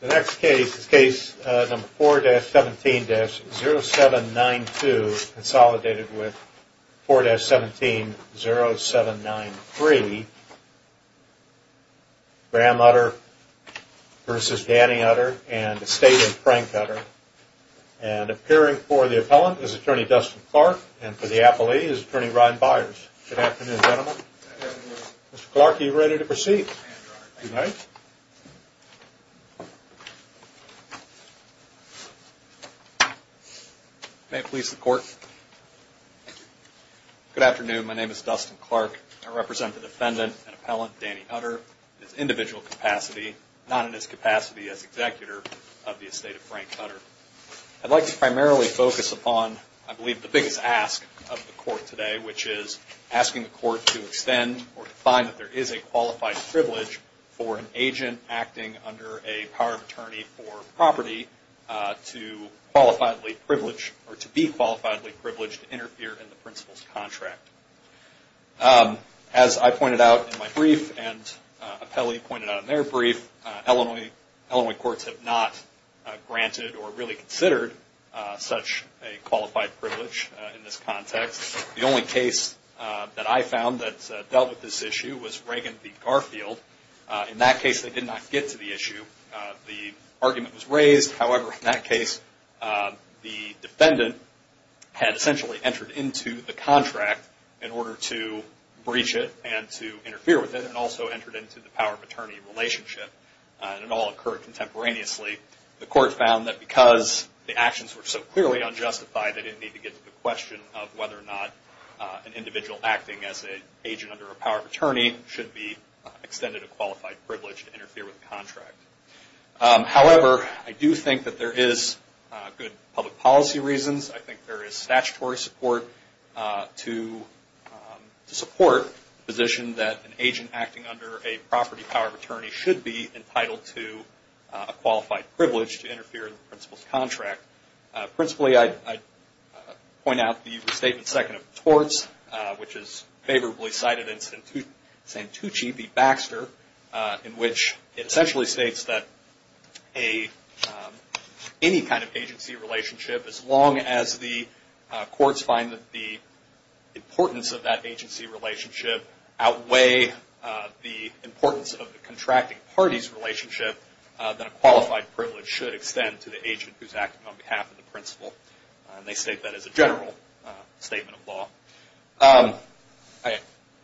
The next case is case number 4-17-0792, consolidated with 4-17-0793, Graham Utter v. Danny Utter and the statement Frank Utter. And appearing for the appellant is attorney Dustin Clark and for the appellee is attorney Ryan Byers. Good afternoon, gentlemen. Good afternoon. Mr. Clark, are you ready to proceed? May it please the court. Good afternoon. My name is Dustin Clark. I represent the defendant and appellant, Danny Utter, in his individual capacity, not in his capacity as executor of the estate of Frank Utter. I'd like to primarily focus upon, I believe, the biggest ask of the court today, which is asking the court to extend or to find that there is a qualified privilege for an agent acting under a power of attorney for property to be qualifiably privileged to interfere in the principal's contract. As I pointed out in my brief and appellee pointed out in their brief, Illinois courts have not granted or really considered such a qualified privilege in this context. The only case that I found that dealt with this issue was Reagan v. Garfield. In that case, they did not get to the issue. The argument was raised. However, in that case, the defendant had essentially entered into the contract in order to breach it and to interfere with it and also entered into the power of attorney relationship. And it all occurred contemporaneously. The court found that because the actions were so clearly unjustified, they didn't need to get to the question of whether or not an individual acting as an agent under a power of attorney should be extended a qualified privilege to interfere with the contract. However, I do think that there is good public policy reasons. I think there is statutory support to support the position that an agent acting under a property power of attorney should be entitled to a qualified privilege to interfere in the principal's contract. Principally, I point out the statement second of torts, which is favorably cited in Santucci v. Baxter, in which it essentially states that any kind of agency relationship, as long as the courts find that the importance of that agency relationship outweigh the importance of the contracting party's relationship, that a qualified privilege should extend to the principal. And they state that as a general statement of law.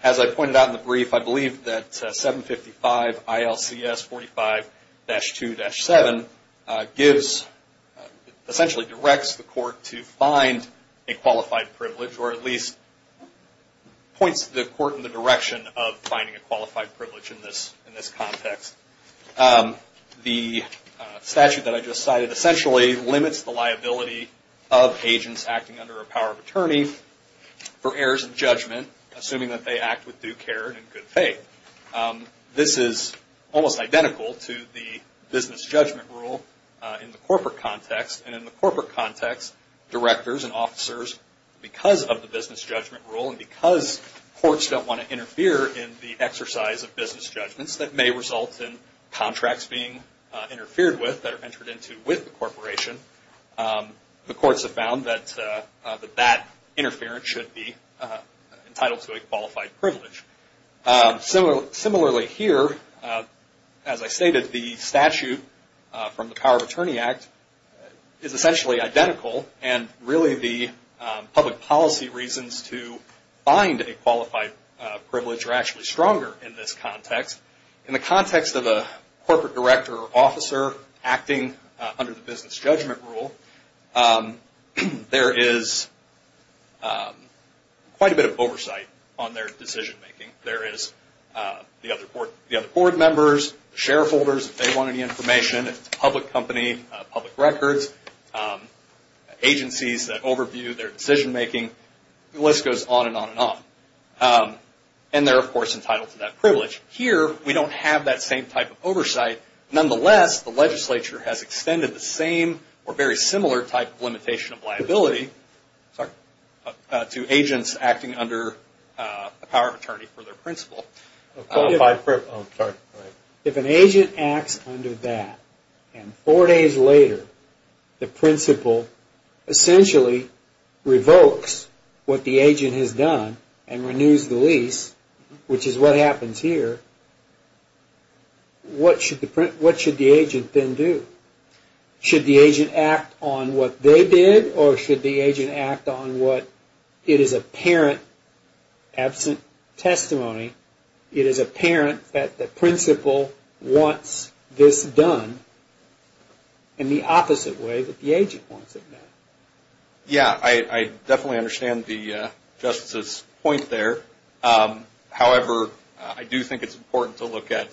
As I pointed out in the brief, I believe that 755 ILCS 45-2-7 gives, essentially directs the court to find a qualified privilege or at least points the court in the direction of finding a qualified privilege in this context. The statute that I just cited essentially limits the liability of agents acting under a power of attorney for errors of judgment, assuming that they act with due care and good faith. This is almost identical to the business judgment rule in the corporate context. And in the corporate context, directors and officers, because of the business judgment rule and because courts don't want to interfere in the exercise of business judgments, that may result in contracts being interfered with that are entered into with the corporation. The courts have found that that interference should be entitled to a qualified privilege. Similarly here, as I stated, the statute from the Power of Attorney Act is essentially identical and really the public policy reasons to find a qualified privilege are actually stronger in this context. In the context of a corporate director or officer acting under the business judgment rule, there is quite a bit of oversight on their decision making. There is the other board members, the shareholders, if they want any information, if it's a public company, public records, agencies that overview their decision making, the list goes on and on and on. And they're of course entitled to that privilege. Here, we don't have that same type of oversight. Nonetheless, the legislature has extended the same or very similar type of limitation of liability to agents acting under the Power of Attorney for their principal. If an agent acts under that and four days later, the principal essentially revokes what the agent has done and renews the lease, which is what happens here, what should the agent then do? Should the agent act on what they did or should the agent act on what it is apparent, absent testimony, it is apparent that the principal wants this done in the opposite way that the agent wants it done? Yeah, I definitely understand the Justice's point there. However, I do think it's important to look at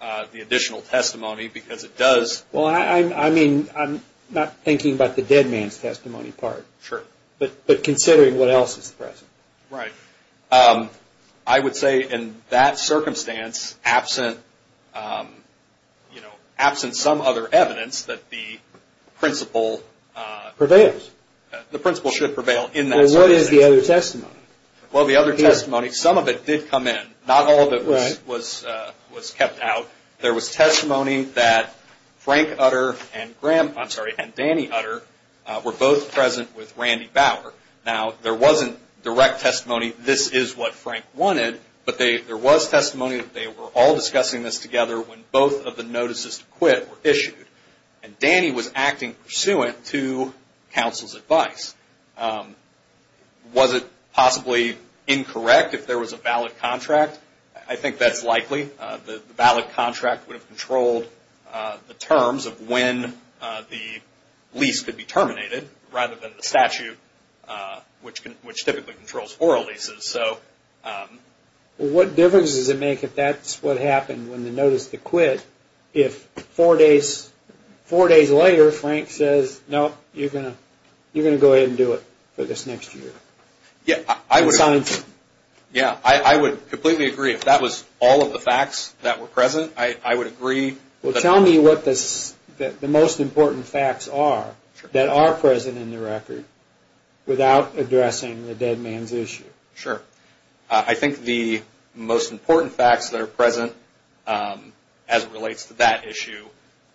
the additional testimony because it does... Well, I mean, I'm not thinking about the dead man's testimony part. Sure. But considering what else is present. Right. I would say in that circumstance, absent some other evidence that the principal... Prevails. The principal should prevail in that circumstance. Well, what is the other testimony? Well, the other testimony, some of it did come in. Not all of it was kept out. There was testimony that Frank Utter and Danny Utter were both present with Randy Bauer. Now, there wasn't direct testimony, this is what Frank wanted, but there was testimony that they were all discussing this together when both of the notices to quit were issued. And Danny was acting pursuant to counsel's advice. Was it possibly incorrect if there was a valid contract? I think that's likely. The valid contract would have controlled the terms of when the lease could be terminated rather than the statute, which typically controls oral leases. What difference does it make if that's what happened when the notice to quit, if four days later Frank says, no, you're going to go ahead and do it for this next year? Yeah, I would completely agree. If that was all of the facts that were present, I would agree. Well, tell me what the most important facts are that are present in the record without addressing the dead man's issue. Sure. I think the most important facts that are present as it relates to that issue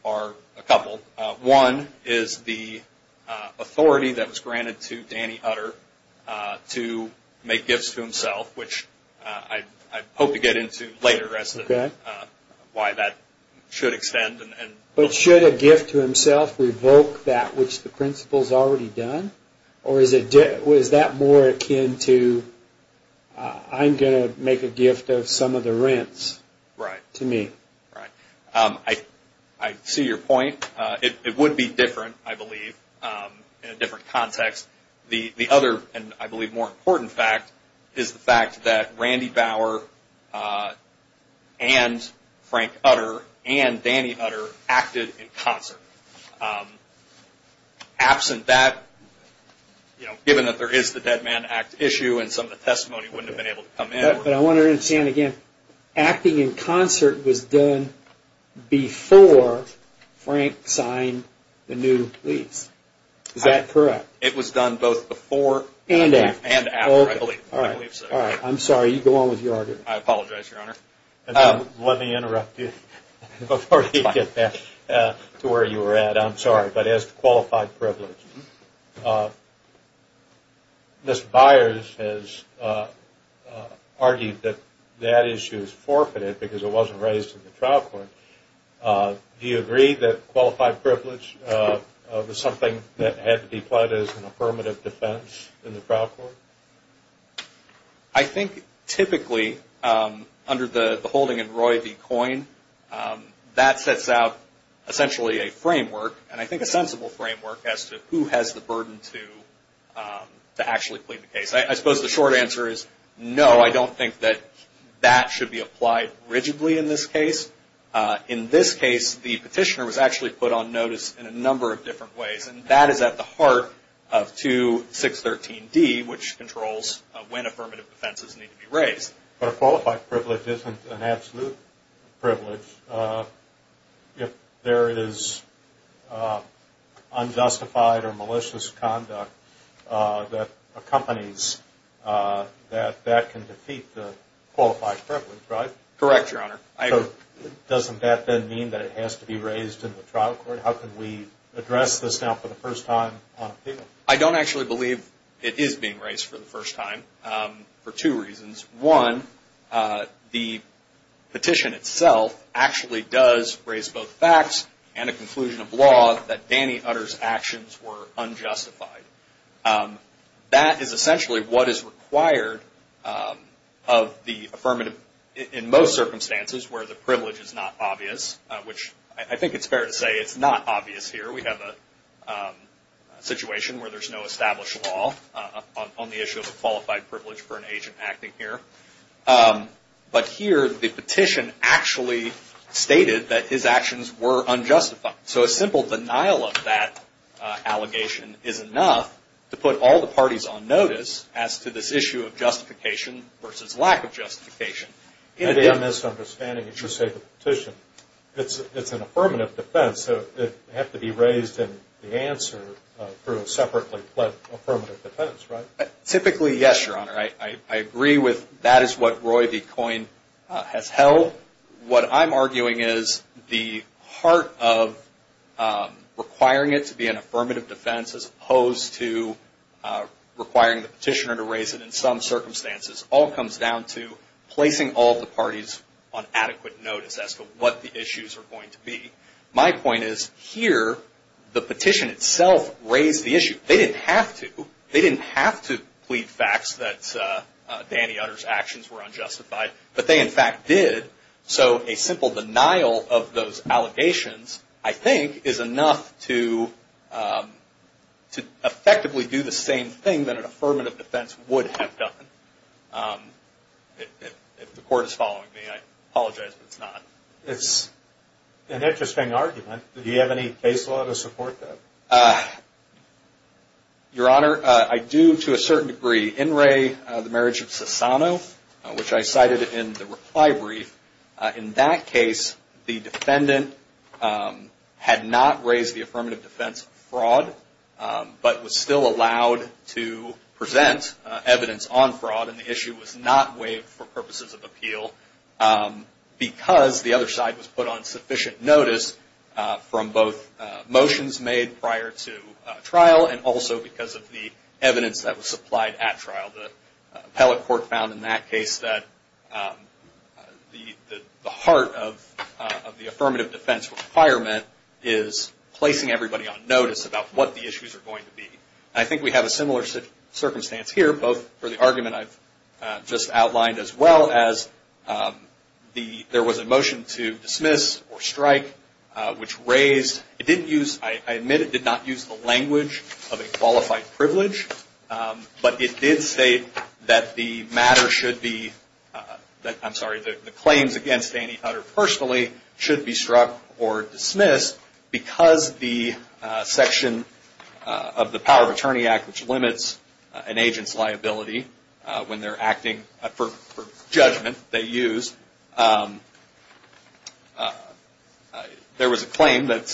are a couple. One is the authority that was granted to Danny Utter to make gifts to himself, which I hope to get into later as to why that should extend. But should a gift to himself revoke that which the principal has already done? Or is that more akin to I'm going to make a gift of some of the rents to me? Right. I see your point. It would be different, I believe, in a different context. The other, and I believe more important fact, is the fact that Randy Bauer and Frank Utter and Danny Utter acted in concert. Absent that, given that there is the dead man act issue and some of the testimony wouldn't have been able to come in. But I want to understand again, acting in concert was done before Frank signed the new lease. Is that correct? It was done both before and after, I believe. All right. I'm sorry. You go on with your argument. I apologize, Your Honor. Let me interrupt you before you get to where you were at. I'm sorry. But as to qualified privilege, Mr. Byers has argued that that issue is forfeited because it wasn't raised in the trial court. Do you agree that qualified privilege was something that had to be applied as an affirmative defense in the trial court? I think typically under the holding in Roy v. Coyne, that sets out essentially a framework, and I think a sensible framework as to who has the burden to actually plead the case. I suppose the short answer is no, I don't think that that should be applied rigidly in this case. In this case, the petitioner was actually put on notice in a number of different ways, and that is at the heart of 2613D, which controls when affirmative defenses need to be raised. But a qualified privilege isn't an absolute privilege if there is unjustified or malicious conduct that accompanies that that can defeat the qualified privilege, right? Correct, Your Honor. So doesn't that then mean that it has to be raised in the trial court? How can we address this now for the first time on appeal? I don't actually believe it is being raised for the first time for two reasons. One, the petition itself actually does raise both facts and a conclusion of law that Danny Utter's actions were unjustified. That is essentially what is required of the affirmative in most circumstances where the privilege is not obvious, which I think it's fair to say it's not obvious here. We have a situation where there's no established law on the issue of a qualified privilege for an agent acting here. But here, the petition actually stated that his actions were unjustified. So a simple denial of that allegation is enough to put all the parties on notice as to this issue of justification versus lack of justification. And again, misunderstanding, as you say, the petition. It's an affirmative defense, so it would have to be raised in the answer through a separately-fled affirmative defense, right? Typically, yes, Your Honor. I agree with that is what Roy V. Coyne has held. What I'm arguing is the heart of requiring it to be an affirmative defense as opposed to requiring the petitioner to raise it in some circumstances all comes down to placing all the parties on adequate notice as to what the issues are going to be. My point is here, the petition itself raised the issue. They didn't have to. They didn't have to plead facts that Danny Utter's actions were unjustified, but they in fact did. So a simple denial of those allegations, I think, is enough to effectively do the same thing that an affirmative defense would have done. If the Court is following me, I apologize if it's not. It's an interesting argument. Do you have any case law to support that? Your Honor, I do to a certain degree. In re the marriage of Sassano, which I cited in the reply brief, in that case the defendant had not raised the affirmative defense of fraud, but was still allowed to present evidence on fraud and the issue was not waived for purposes of appeal because the other side was put on sufficient notice from both motions made prior to trial and also because of the evidence that was supplied at trial. The appellate court found in that case that the heart of the affirmative defense requirement is placing everybody on notice about what the issues are going to be. I think we have a similar circumstance here, both for the argument I've just outlined, as well as there was a motion to dismiss or strike, which raised, I admit it did not use the language of a qualified privilege, but it did state that the claims against Danny Utter personally should be struck or dismissed because the section of the Power of Attorney Act, which limits an agent's liability when they're acting for judgment they use, there was a claim that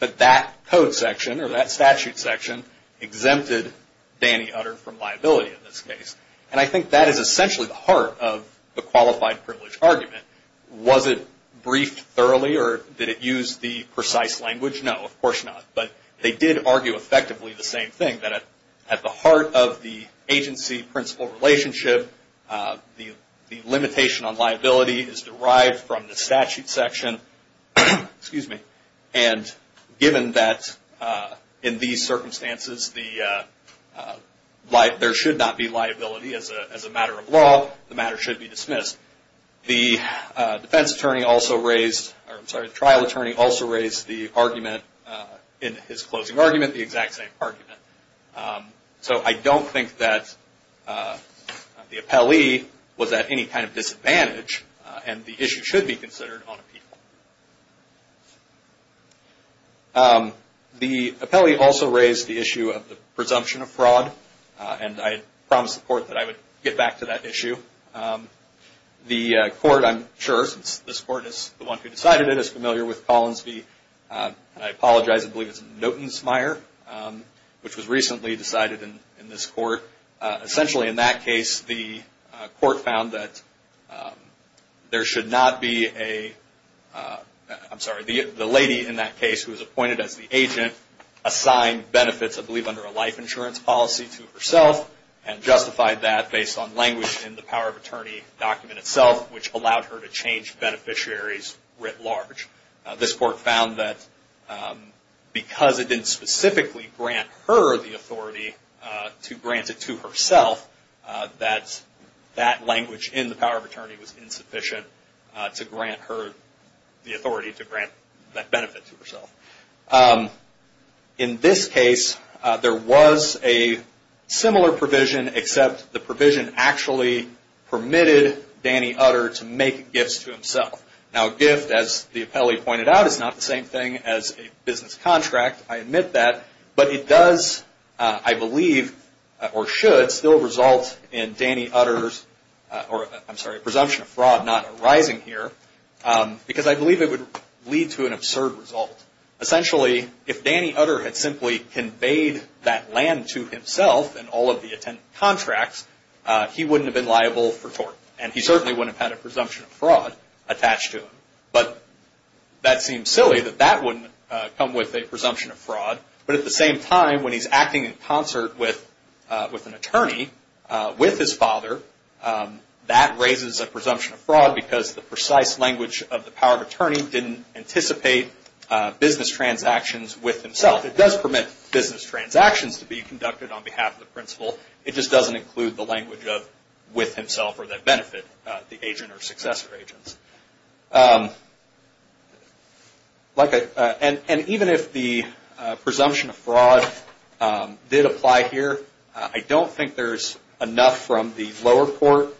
that code section or that statute section exempted Danny Utter from liability in this case. I think that is essentially the heart of the qualified privilege argument. Was it briefed thoroughly or did it use the precise language? No, of course not. But they did argue effectively the same thing, that at the heart of the agency-principal relationship, the limitation on liability is derived from the statute section. And given that in these circumstances there should not be liability as a matter of law, the matter should be dismissed. The trial attorney also raised the argument in his closing argument, the exact same argument. So I don't think that the appellee was at any kind of disadvantage and the issue should be considered on appeal. The appellee also raised the issue of the presumption of fraud, and I promised the Court that I would get back to that issue. The Court, I'm sure, since this Court is the one who decided it, is familiar with Collins v. I apologize, I believe it's Notensmeyer, which was recently decided in this Court. Essentially in that case, the Court found that there should not be a, I'm sorry, the lady in that case who was appointed as the agent assigned benefits, I believe under a life insurance policy, to herself and justified that based on language in the power of attorney document itself, which allowed her to change beneficiaries writ large. This Court found that because it didn't specifically grant her the authority to grant it to herself, that language in the power of attorney was insufficient to grant her the authority to grant that benefit to herself. In this case, there was a similar provision, except the provision actually permitted Danny Utter to make gifts to himself. Now a gift, as the appellee pointed out, is not the same thing as a business contract. I admit that, but it does, I believe, or should still result in Danny Utter's, I'm sorry, presumption of fraud not arising here, because I believe it would lead to an absurd result. Essentially, if Danny Utter had simply conveyed that land to himself and all of the attendant contracts, he wouldn't have been liable for tort, and he certainly wouldn't have had a presumption of fraud attached to him. But that seems silly, that that wouldn't come with a presumption of fraud. But at the same time, when he's acting in concert with an attorney, with his father, that raises a presumption of fraud because the precise language of the power of attorney didn't anticipate business transactions with himself. It does permit business transactions to be conducted on behalf of the principal. It just doesn't include the language of with himself or that benefit the agent or successor agents. And even if the presumption of fraud did apply here, I don't think there's enough from the lower court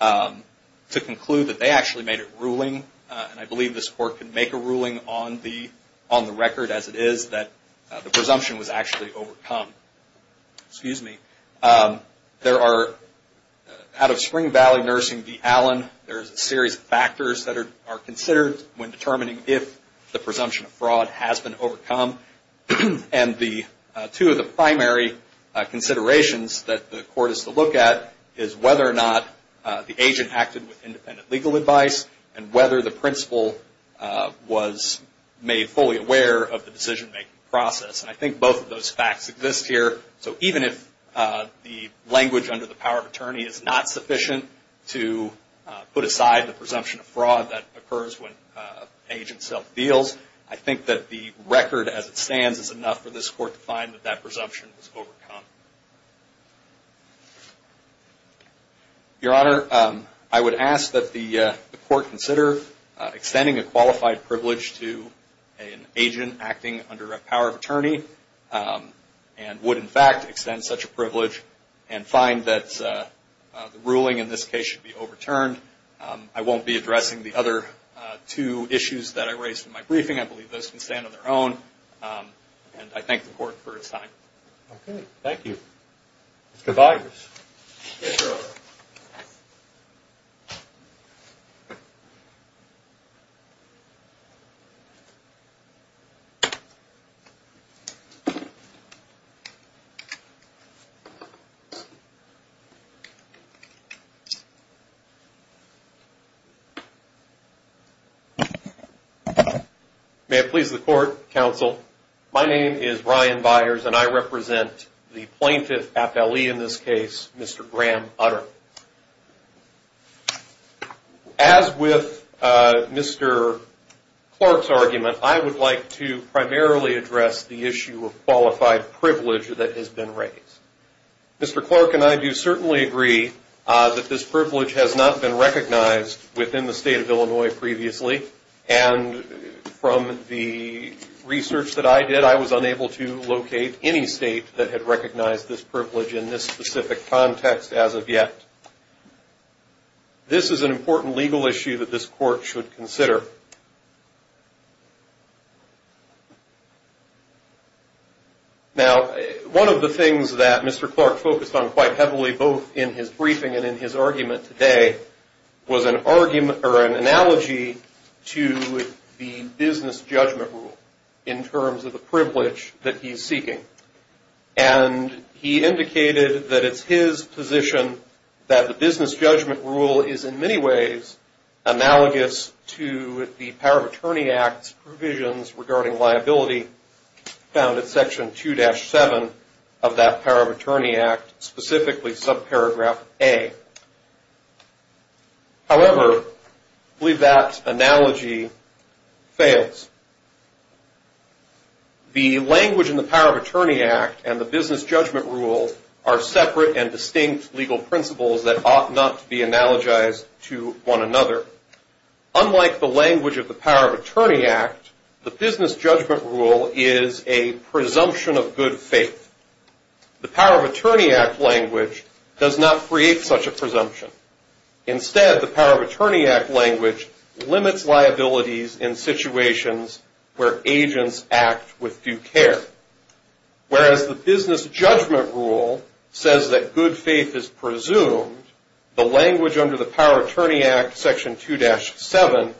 to conclude that they actually made a ruling, and I believe this court can make a ruling on the record as it is that the presumption was actually overcome. Out of Spring Valley Nursing v. Allen, there's a series of factors that are considered when determining if the presumption of fraud has been overcome. And two of the primary considerations that the court is to look at is whether or not the agent acted with independent legal advice and whether the principal was made fully aware of the decision-making process. And I think both of those facts exist here. So even if the language under the power of attorney is not sufficient to put aside the presumption of fraud that occurs when an agent self-deals, I think that the record as it stands is enough for this court to find that that presumption was overcome. Your Honor, I would ask that the court consider extending a qualified privilege to an agent acting under a power of attorney and would, in fact, extend such a privilege and find that the ruling in this case should be overturned. I won't be addressing the other two issues that I raised in my briefing. I believe those can stand on their own, and I thank the court for its time. Okay. Thank you. Mr. Byers. Yes, Your Honor. May it please the court, counsel, my name is Ryan Byers, and I represent the plaintiff appellee in this case, Mr. Graham Utter. As with Mr. Clark's argument, I would like to primarily address the issue of qualified privilege that has been raised. Mr. Clark and I do certainly agree that this privilege has not been recognized within the state of Illinois previously, and from the research that I did, I was unable to locate any state that had recognized this privilege in this specific context as of yet. This is an important legal issue that this court should consider. Now, one of the things that Mr. Clark focused on quite heavily both in his briefing and in his argument today was an analogy to the business judgment rule in terms of the privilege that he's seeking. And he indicated that it's his position that the business judgment rule is in many ways analogous to the Power of Attorney Act's provisions regarding liability found in Section 2-7 of that Power of Attorney Act, specifically subparagraph A. However, I believe that analogy fails. The language in the Power of Attorney Act and the business judgment rule are separate and distinct legal principles that ought not to be analogized to one another. Unlike the language of the Power of Attorney Act, the business judgment rule is a presumption of good faith. The Power of Attorney Act language does not create such a presumption. Instead, the Power of Attorney Act language limits liabilities in situations where agents act with due care. Whereas the business judgment rule says that good faith is presumed, the language under the Power of Attorney Act, Section 2-7,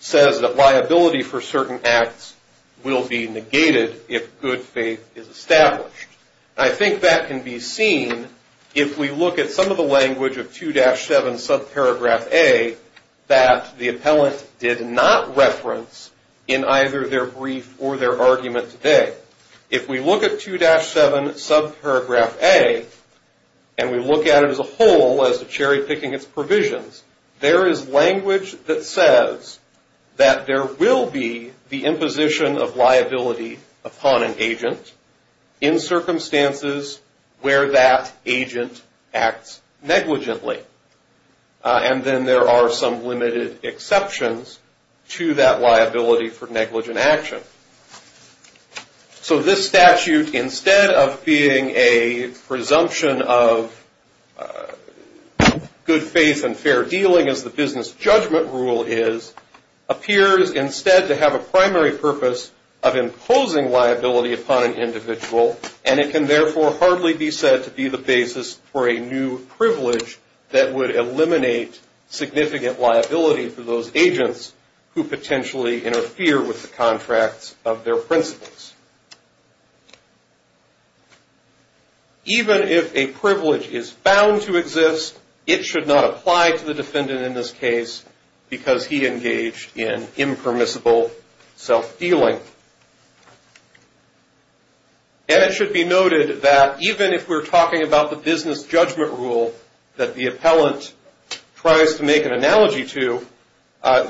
says that liability for certain acts will be negated if good faith is established. I think that can be seen if we look at some of the language of 2-7, subparagraph A, that the appellant did not reference in either their brief or their argument today. If we look at 2-7, subparagraph A, and we look at it as a whole, as the cherry picking its provisions, there is language that says that there will be the imposition of liability upon an agent in circumstances where that agent acts negligently. And then there are some limited exceptions to that liability for negligent action. So this statute, instead of being a presumption of good faith and fair dealing as the business judgment rule is, appears instead to have a primary purpose of imposing liability upon an individual, and it can therefore hardly be said to be the basis for a new privilege that would eliminate significant liability for those agents who potentially interfere with the contracts of their principles. Even if a privilege is found to exist, it should not apply to the defendant in this case because he engaged in impermissible self-dealing. And it should be noted that even if we're talking about the business judgment rule that the appellant tries to make an analogy to,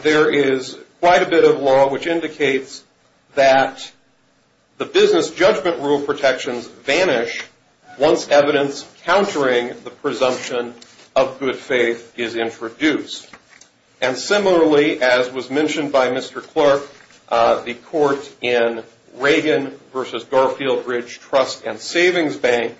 there is quite a bit of law which indicates that the business judgment rule protections vanish once evidence countering the presumption of good faith is introduced. And similarly, as was mentioned by Mr. Clark, the court in Reagan v. Garfield Ridge Trust and Savings Bank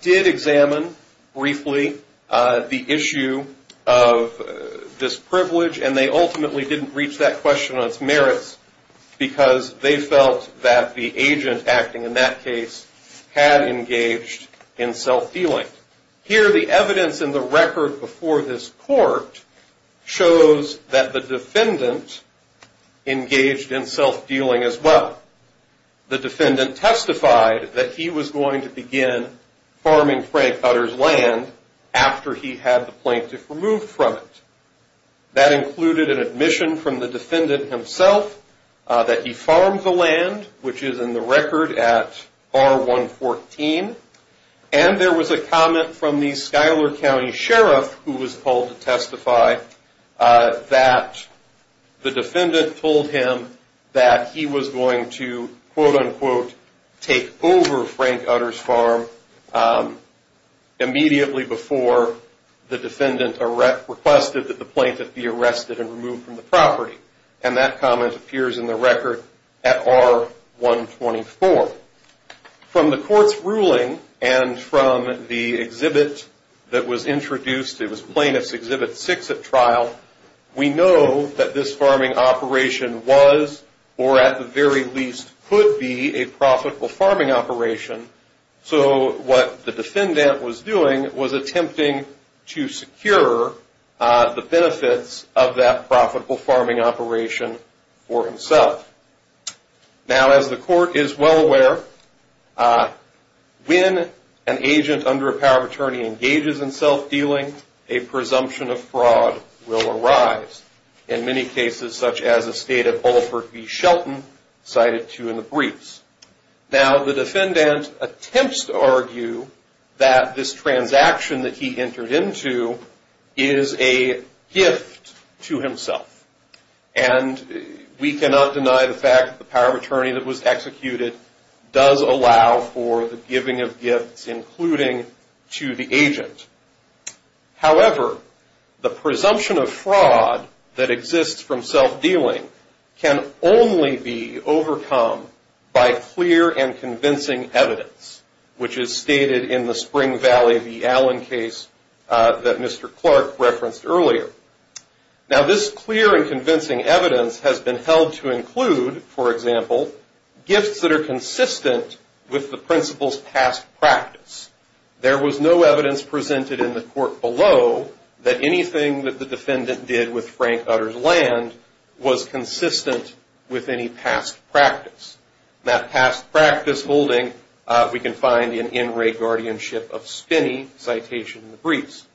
did examine briefly the issue of this privilege, and they ultimately didn't reach that question on its merits because they felt that the agent acting in that case had engaged in self-dealing. Here the evidence in the record before this court shows that the defendant engaged in self-dealing as well. The defendant testified that he was going to begin farming Frank Utter's land after he had the plaintiff removed from it. That included an admission from the comment from the Schuyler County Sheriff who was called to testify that the defendant told him that he was going to quote-unquote take over Frank Utter's farm immediately before the defendant requested that the plaintiff be arrested and removed from the property. And that comment appears in the record at R-124. From the court's ruling and from the exhibit that was introduced, it was Plaintiff's Exhibit 6 at trial, we know that this farming operation was or at the very least could be a profitable farming operation. So what the defendant was doing was attempting to secure the benefits of that profitable farming operation for himself. Now as the court is well aware, when an agent under a power of attorney engages in self-dealing, a presumption of fraud will arise. In many cases such as the state of transaction that he entered into is a gift to himself. And we cannot deny the fact that the power of attorney that was executed does allow for the giving of gifts including to the agent. However, the presumption of fraud that exists from self-dealing can only be overcome by clear and convincing evidence, which is stated in the Spring Valley v. Allen case that Mr. Clark referenced earlier. Now this clear and convincing evidence has been held to include, for example, gifts that are consistent with the principal's past practice. There was no evidence presented in the court below that anything that the defendant did with Frank Utter's land was consistent with any past practice. That past practice holding we can find in In Re. Guardianship of Spinney, citation in the briefs.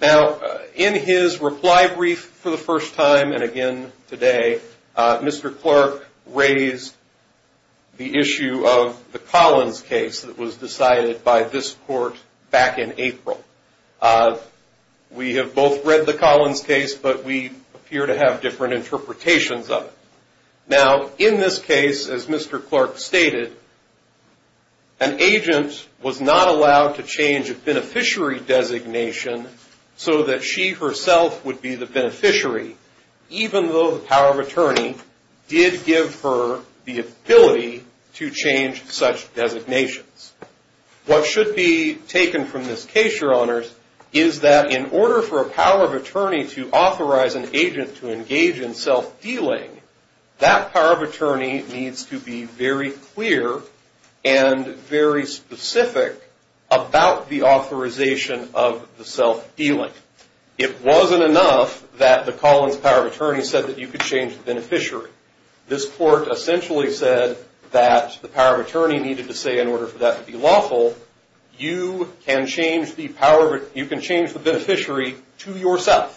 Now in his reply brief for the first time and again today, Mr. Clark raised the issue of the We have both read the Collins case, but we appear to have different interpretations of it. Now in this case, as Mr. Clark stated, an agent was not allowed to change a beneficiary designation so that she herself would be the beneficiary even though the power of attorney did give her the ability to change such is that in order for a power of attorney to authorize an agent to engage in self-dealing, that power of attorney needs to be very clear and very specific about the authorization of the self-dealing. It wasn't enough that the Collins power of attorney said that you could change the beneficiary. This court essentially said that the power of attorney needed to say in order for that to be lawful, you can change the beneficiary to yourself.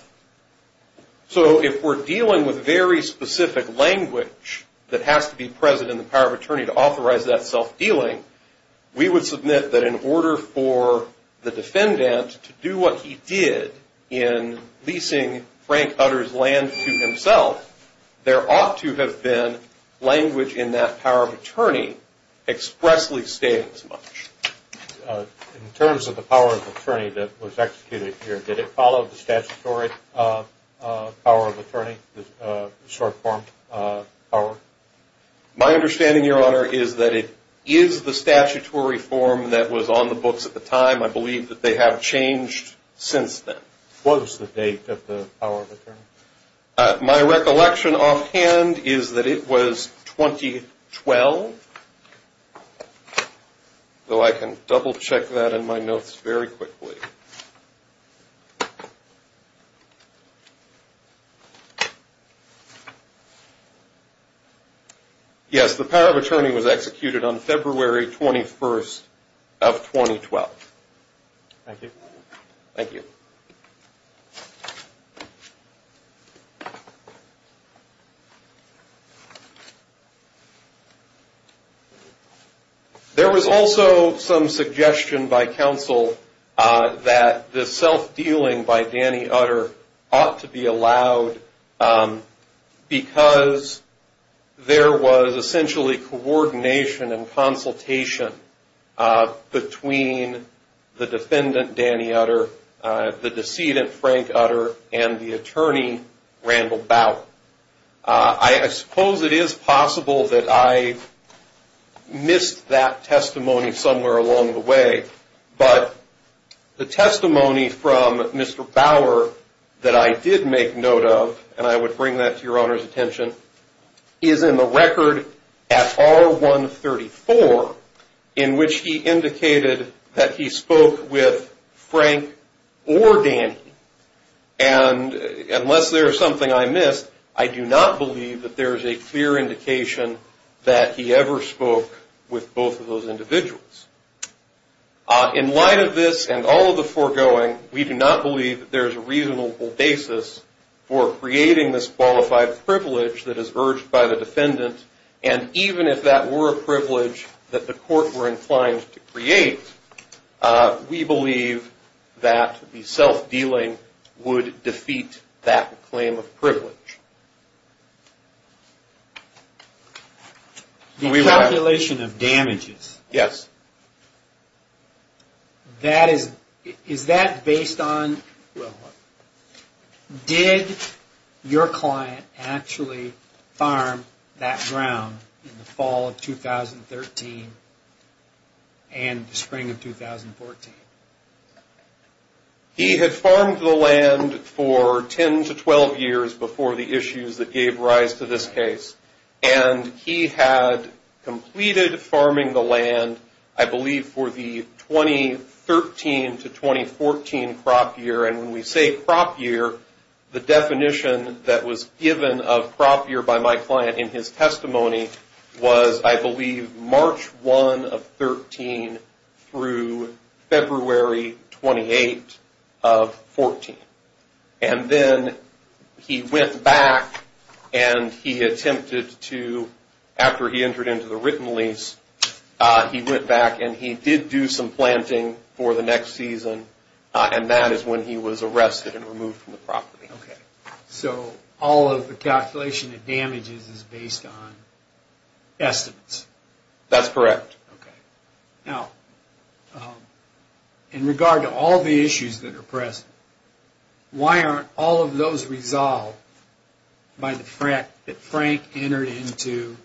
So if we're dealing with very specific language that has to be present in the power of attorney to authorize that self-dealing, we would submit that in order for the defendant to do what he did in leasing Frank Utter's land to himself, there ought to have been language in that power of attorney expressly stating as much. In terms of the power of attorney that was executed here, did it follow the statutory power of attorney, the short form power? My understanding, your honor, is that it is the statutory form that was on the books at the time. I believe that they have changed since then. What was the date of the power of attorney? My recollection offhand is that it was 2012, though I can double check that in my notes very quickly. Yes, the power of attorney was executed on February 21st of 2012. Thank you. Thank you. There was also some suggestion by counsel that the self-dealing by Danny Utter ought to be allowed because there was essentially coordination and consultation between the defendant, Danny Utter, the decedent, Frank Utter, and the attorney, Randall Bauer. I suppose it is possible that I missed that testimony somewhere along the way, but the testimony from Mr. Bauer that I did make note of, and I would bring that to your honor's attention, is in the record at R134 in which he indicated that he spoke with Frank or Danny. And unless there is something I missed, I do not believe that there is a clear indication that he ever spoke with both of those individuals. In light of this and all of the foregoing, we do not believe there is a reasonable basis for creating this qualified privilege that is urged by the defendant. And even if that were a privilege that the court were inclined to create, we believe that the self-dealing would defeat that claim of privilege. The calculation of damages. Yes. Did your client actually farm that ground in the fall of 2013 and the spring of 2014? He had farmed the land for 10 to 12 years before the issues that gave rise to this case. And he had completed farming the land, I believe, for the 2013 to 2014 crop year. And when we say crop year, the definition that was given of crop year by my client in his testimony was, I believe, March 1 of 2013 through February 28 of 2014. And then he went back and he attempted to, after he entered into the written lease, he went back and he did do some planting for the next season. And that is when he was arrested and removed from the property. So all of the calculation of damages is based on estimates? That's correct. Now, in regard to all the issues that are present, why aren't all of those resolved by the fact that Frank entered into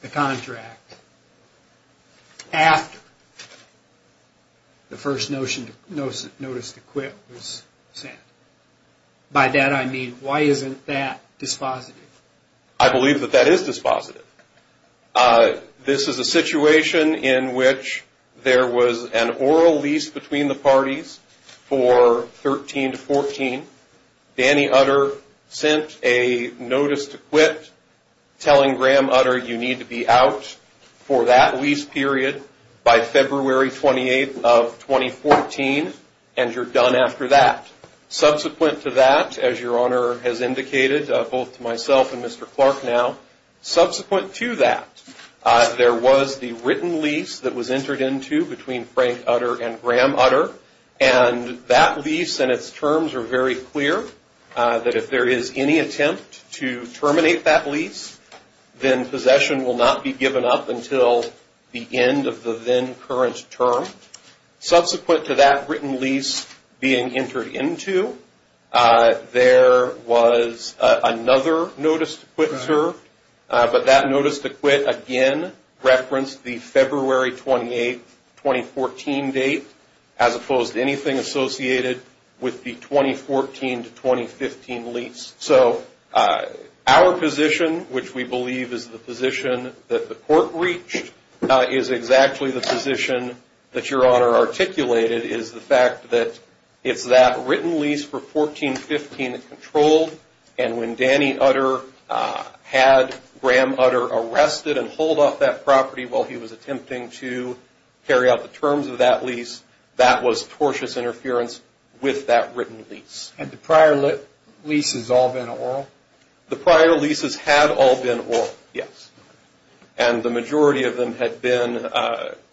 the contract after the first notice to quit was sent? By that I mean, why isn't that dispositive? I believe that that is dispositive. This is a situation in which there was an oral lease between the parties for 2013 to 2014. Danny Utter sent a notice to quit telling Graham Utter, you need to be out for that lease period by February 28 of 2014 and you're done after that. Subsequent to that, as your Honor has indicated, both to myself and Mr. Clark now, subsequent to that, there was the written lease that was entered into between Frank Utter and Graham Utter. And that lease and its terms are very clear that if there is any attempt to terminate that lease, then possession will not be given up until the end of the then current term. Subsequent to that written lease being entered into, there was another notice to quit served. But that notice to quit, again, referenced the February 28, 2014 date, as opposed to anything associated with the 2014 to 2015 lease. So our position, which we believe is the position that the court reached, is exactly the position that your Honor articulated, is the fact that it's that written lease for 2014-2015 that controlled. And when Danny Utter had Graham Utter arrested and hold off that property while he was attempting to carry out the terms of that lease, that was tortious interference with that written lease. Had the prior leases all been oral? The prior leases had all been oral, yes. And the majority of them had been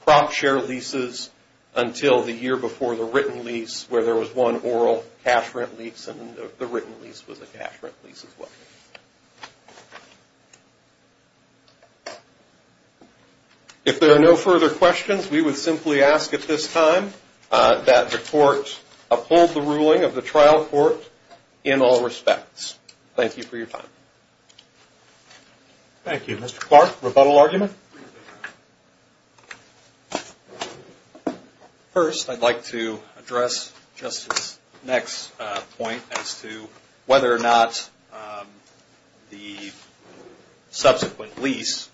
crop share leases until the year before the written lease, where there was one oral cash rent lease, and the written lease was a cash rent lease as well. If there are no further questions, we would simply ask at this time that the court uphold the ruling of the trial court in all respects. Thank you for your time. Thank you. Mr. Clark, rebuttal argument? First, I'd like to address Justice's next point as to whether or not the subsequent lease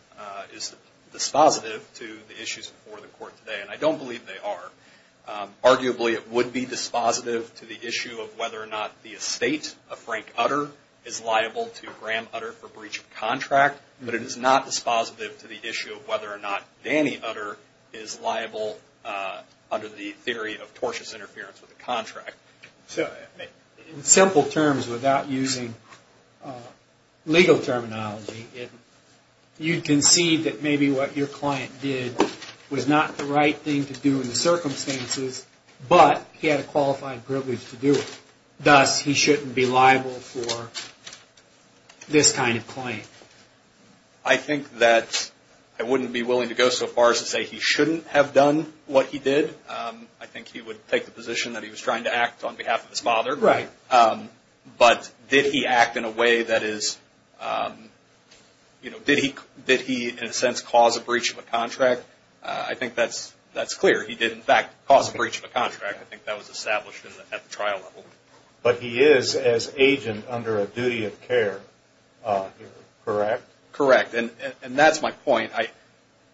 is dispositive to the issues before the court today, and I don't believe they are. Arguably, it would be dispositive to the issue of whether or not the estate of Frank Utter is liable to Graham Utter for breach of contract, but it is not dispositive to the issue of whether or not Danny Utter is liable under the theory of tortious interference with the contract. In simple terms, without using legal terminology, you concede that maybe what your client did was not the right thing to do in the circumstances, but he had a qualified privilege to do it. Thus, he shouldn't be liable for this kind of claim. I think that I wouldn't be willing to go so far as to say he shouldn't have done what he did. I think he would take the position that he was trying to act on behalf of his father. Right. But did he act in a way that is – did he, in a sense, cause a breach of a contract? I think that's clear. He did, in fact, cause a breach of a contract. I think that was established at the trial level. But he is, as agent, under a duty of care, correct? Correct. And that's my point.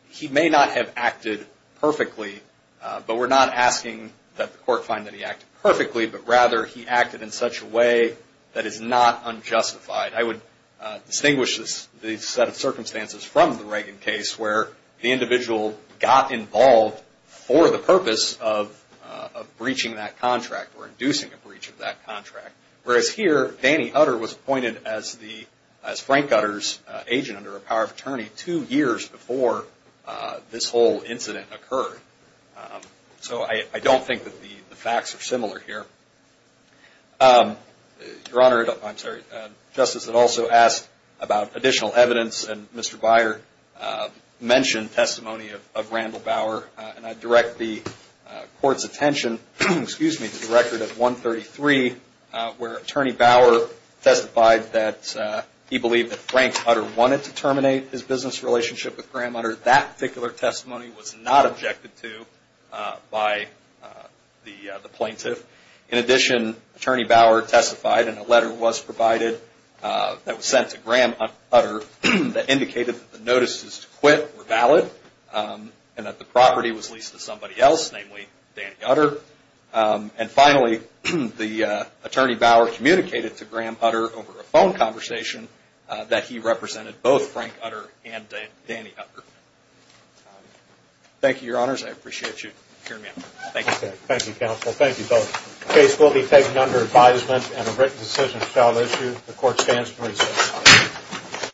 He may not have acted perfectly, but we're not asking that the court find that he acted perfectly, but rather he acted in such a way that is not unjustified. I would distinguish this set of circumstances from the Reagan case where the individual got involved for the purpose of breaching that contract or inducing a breach of that contract. Whereas here, Danny Utter was appointed as Frank Utter's agent under a power of attorney two years before this whole incident occurred. So I don't think that the facts are similar here. Your Honor, I'm sorry, Justice had also asked about additional evidence, and Mr. Beyer mentioned testimony of Randall Bauer. And I direct the Court's attention to the record of 133 where Attorney Bauer testified that he believed that Frank Utter wanted to terminate his business relationship with Graham Utter. That particular testimony was not objected to by the plaintiff. In addition, Attorney Bauer testified in a letter that was provided, that was sent to Graham Utter, that indicated that the notices to quit were valid and that the property was leased to somebody else, namely Danny Utter. And finally, the Attorney Bauer communicated to Graham Utter over a phone conversation that he represented both Frank Utter and Danny Utter. Thank you, Your Honors. I appreciate you hearing me out. Thank you. Thank you, Counsel. Thank you both. The case will be taken under advisement and a written decision shall issue. The Court stands to reschedule.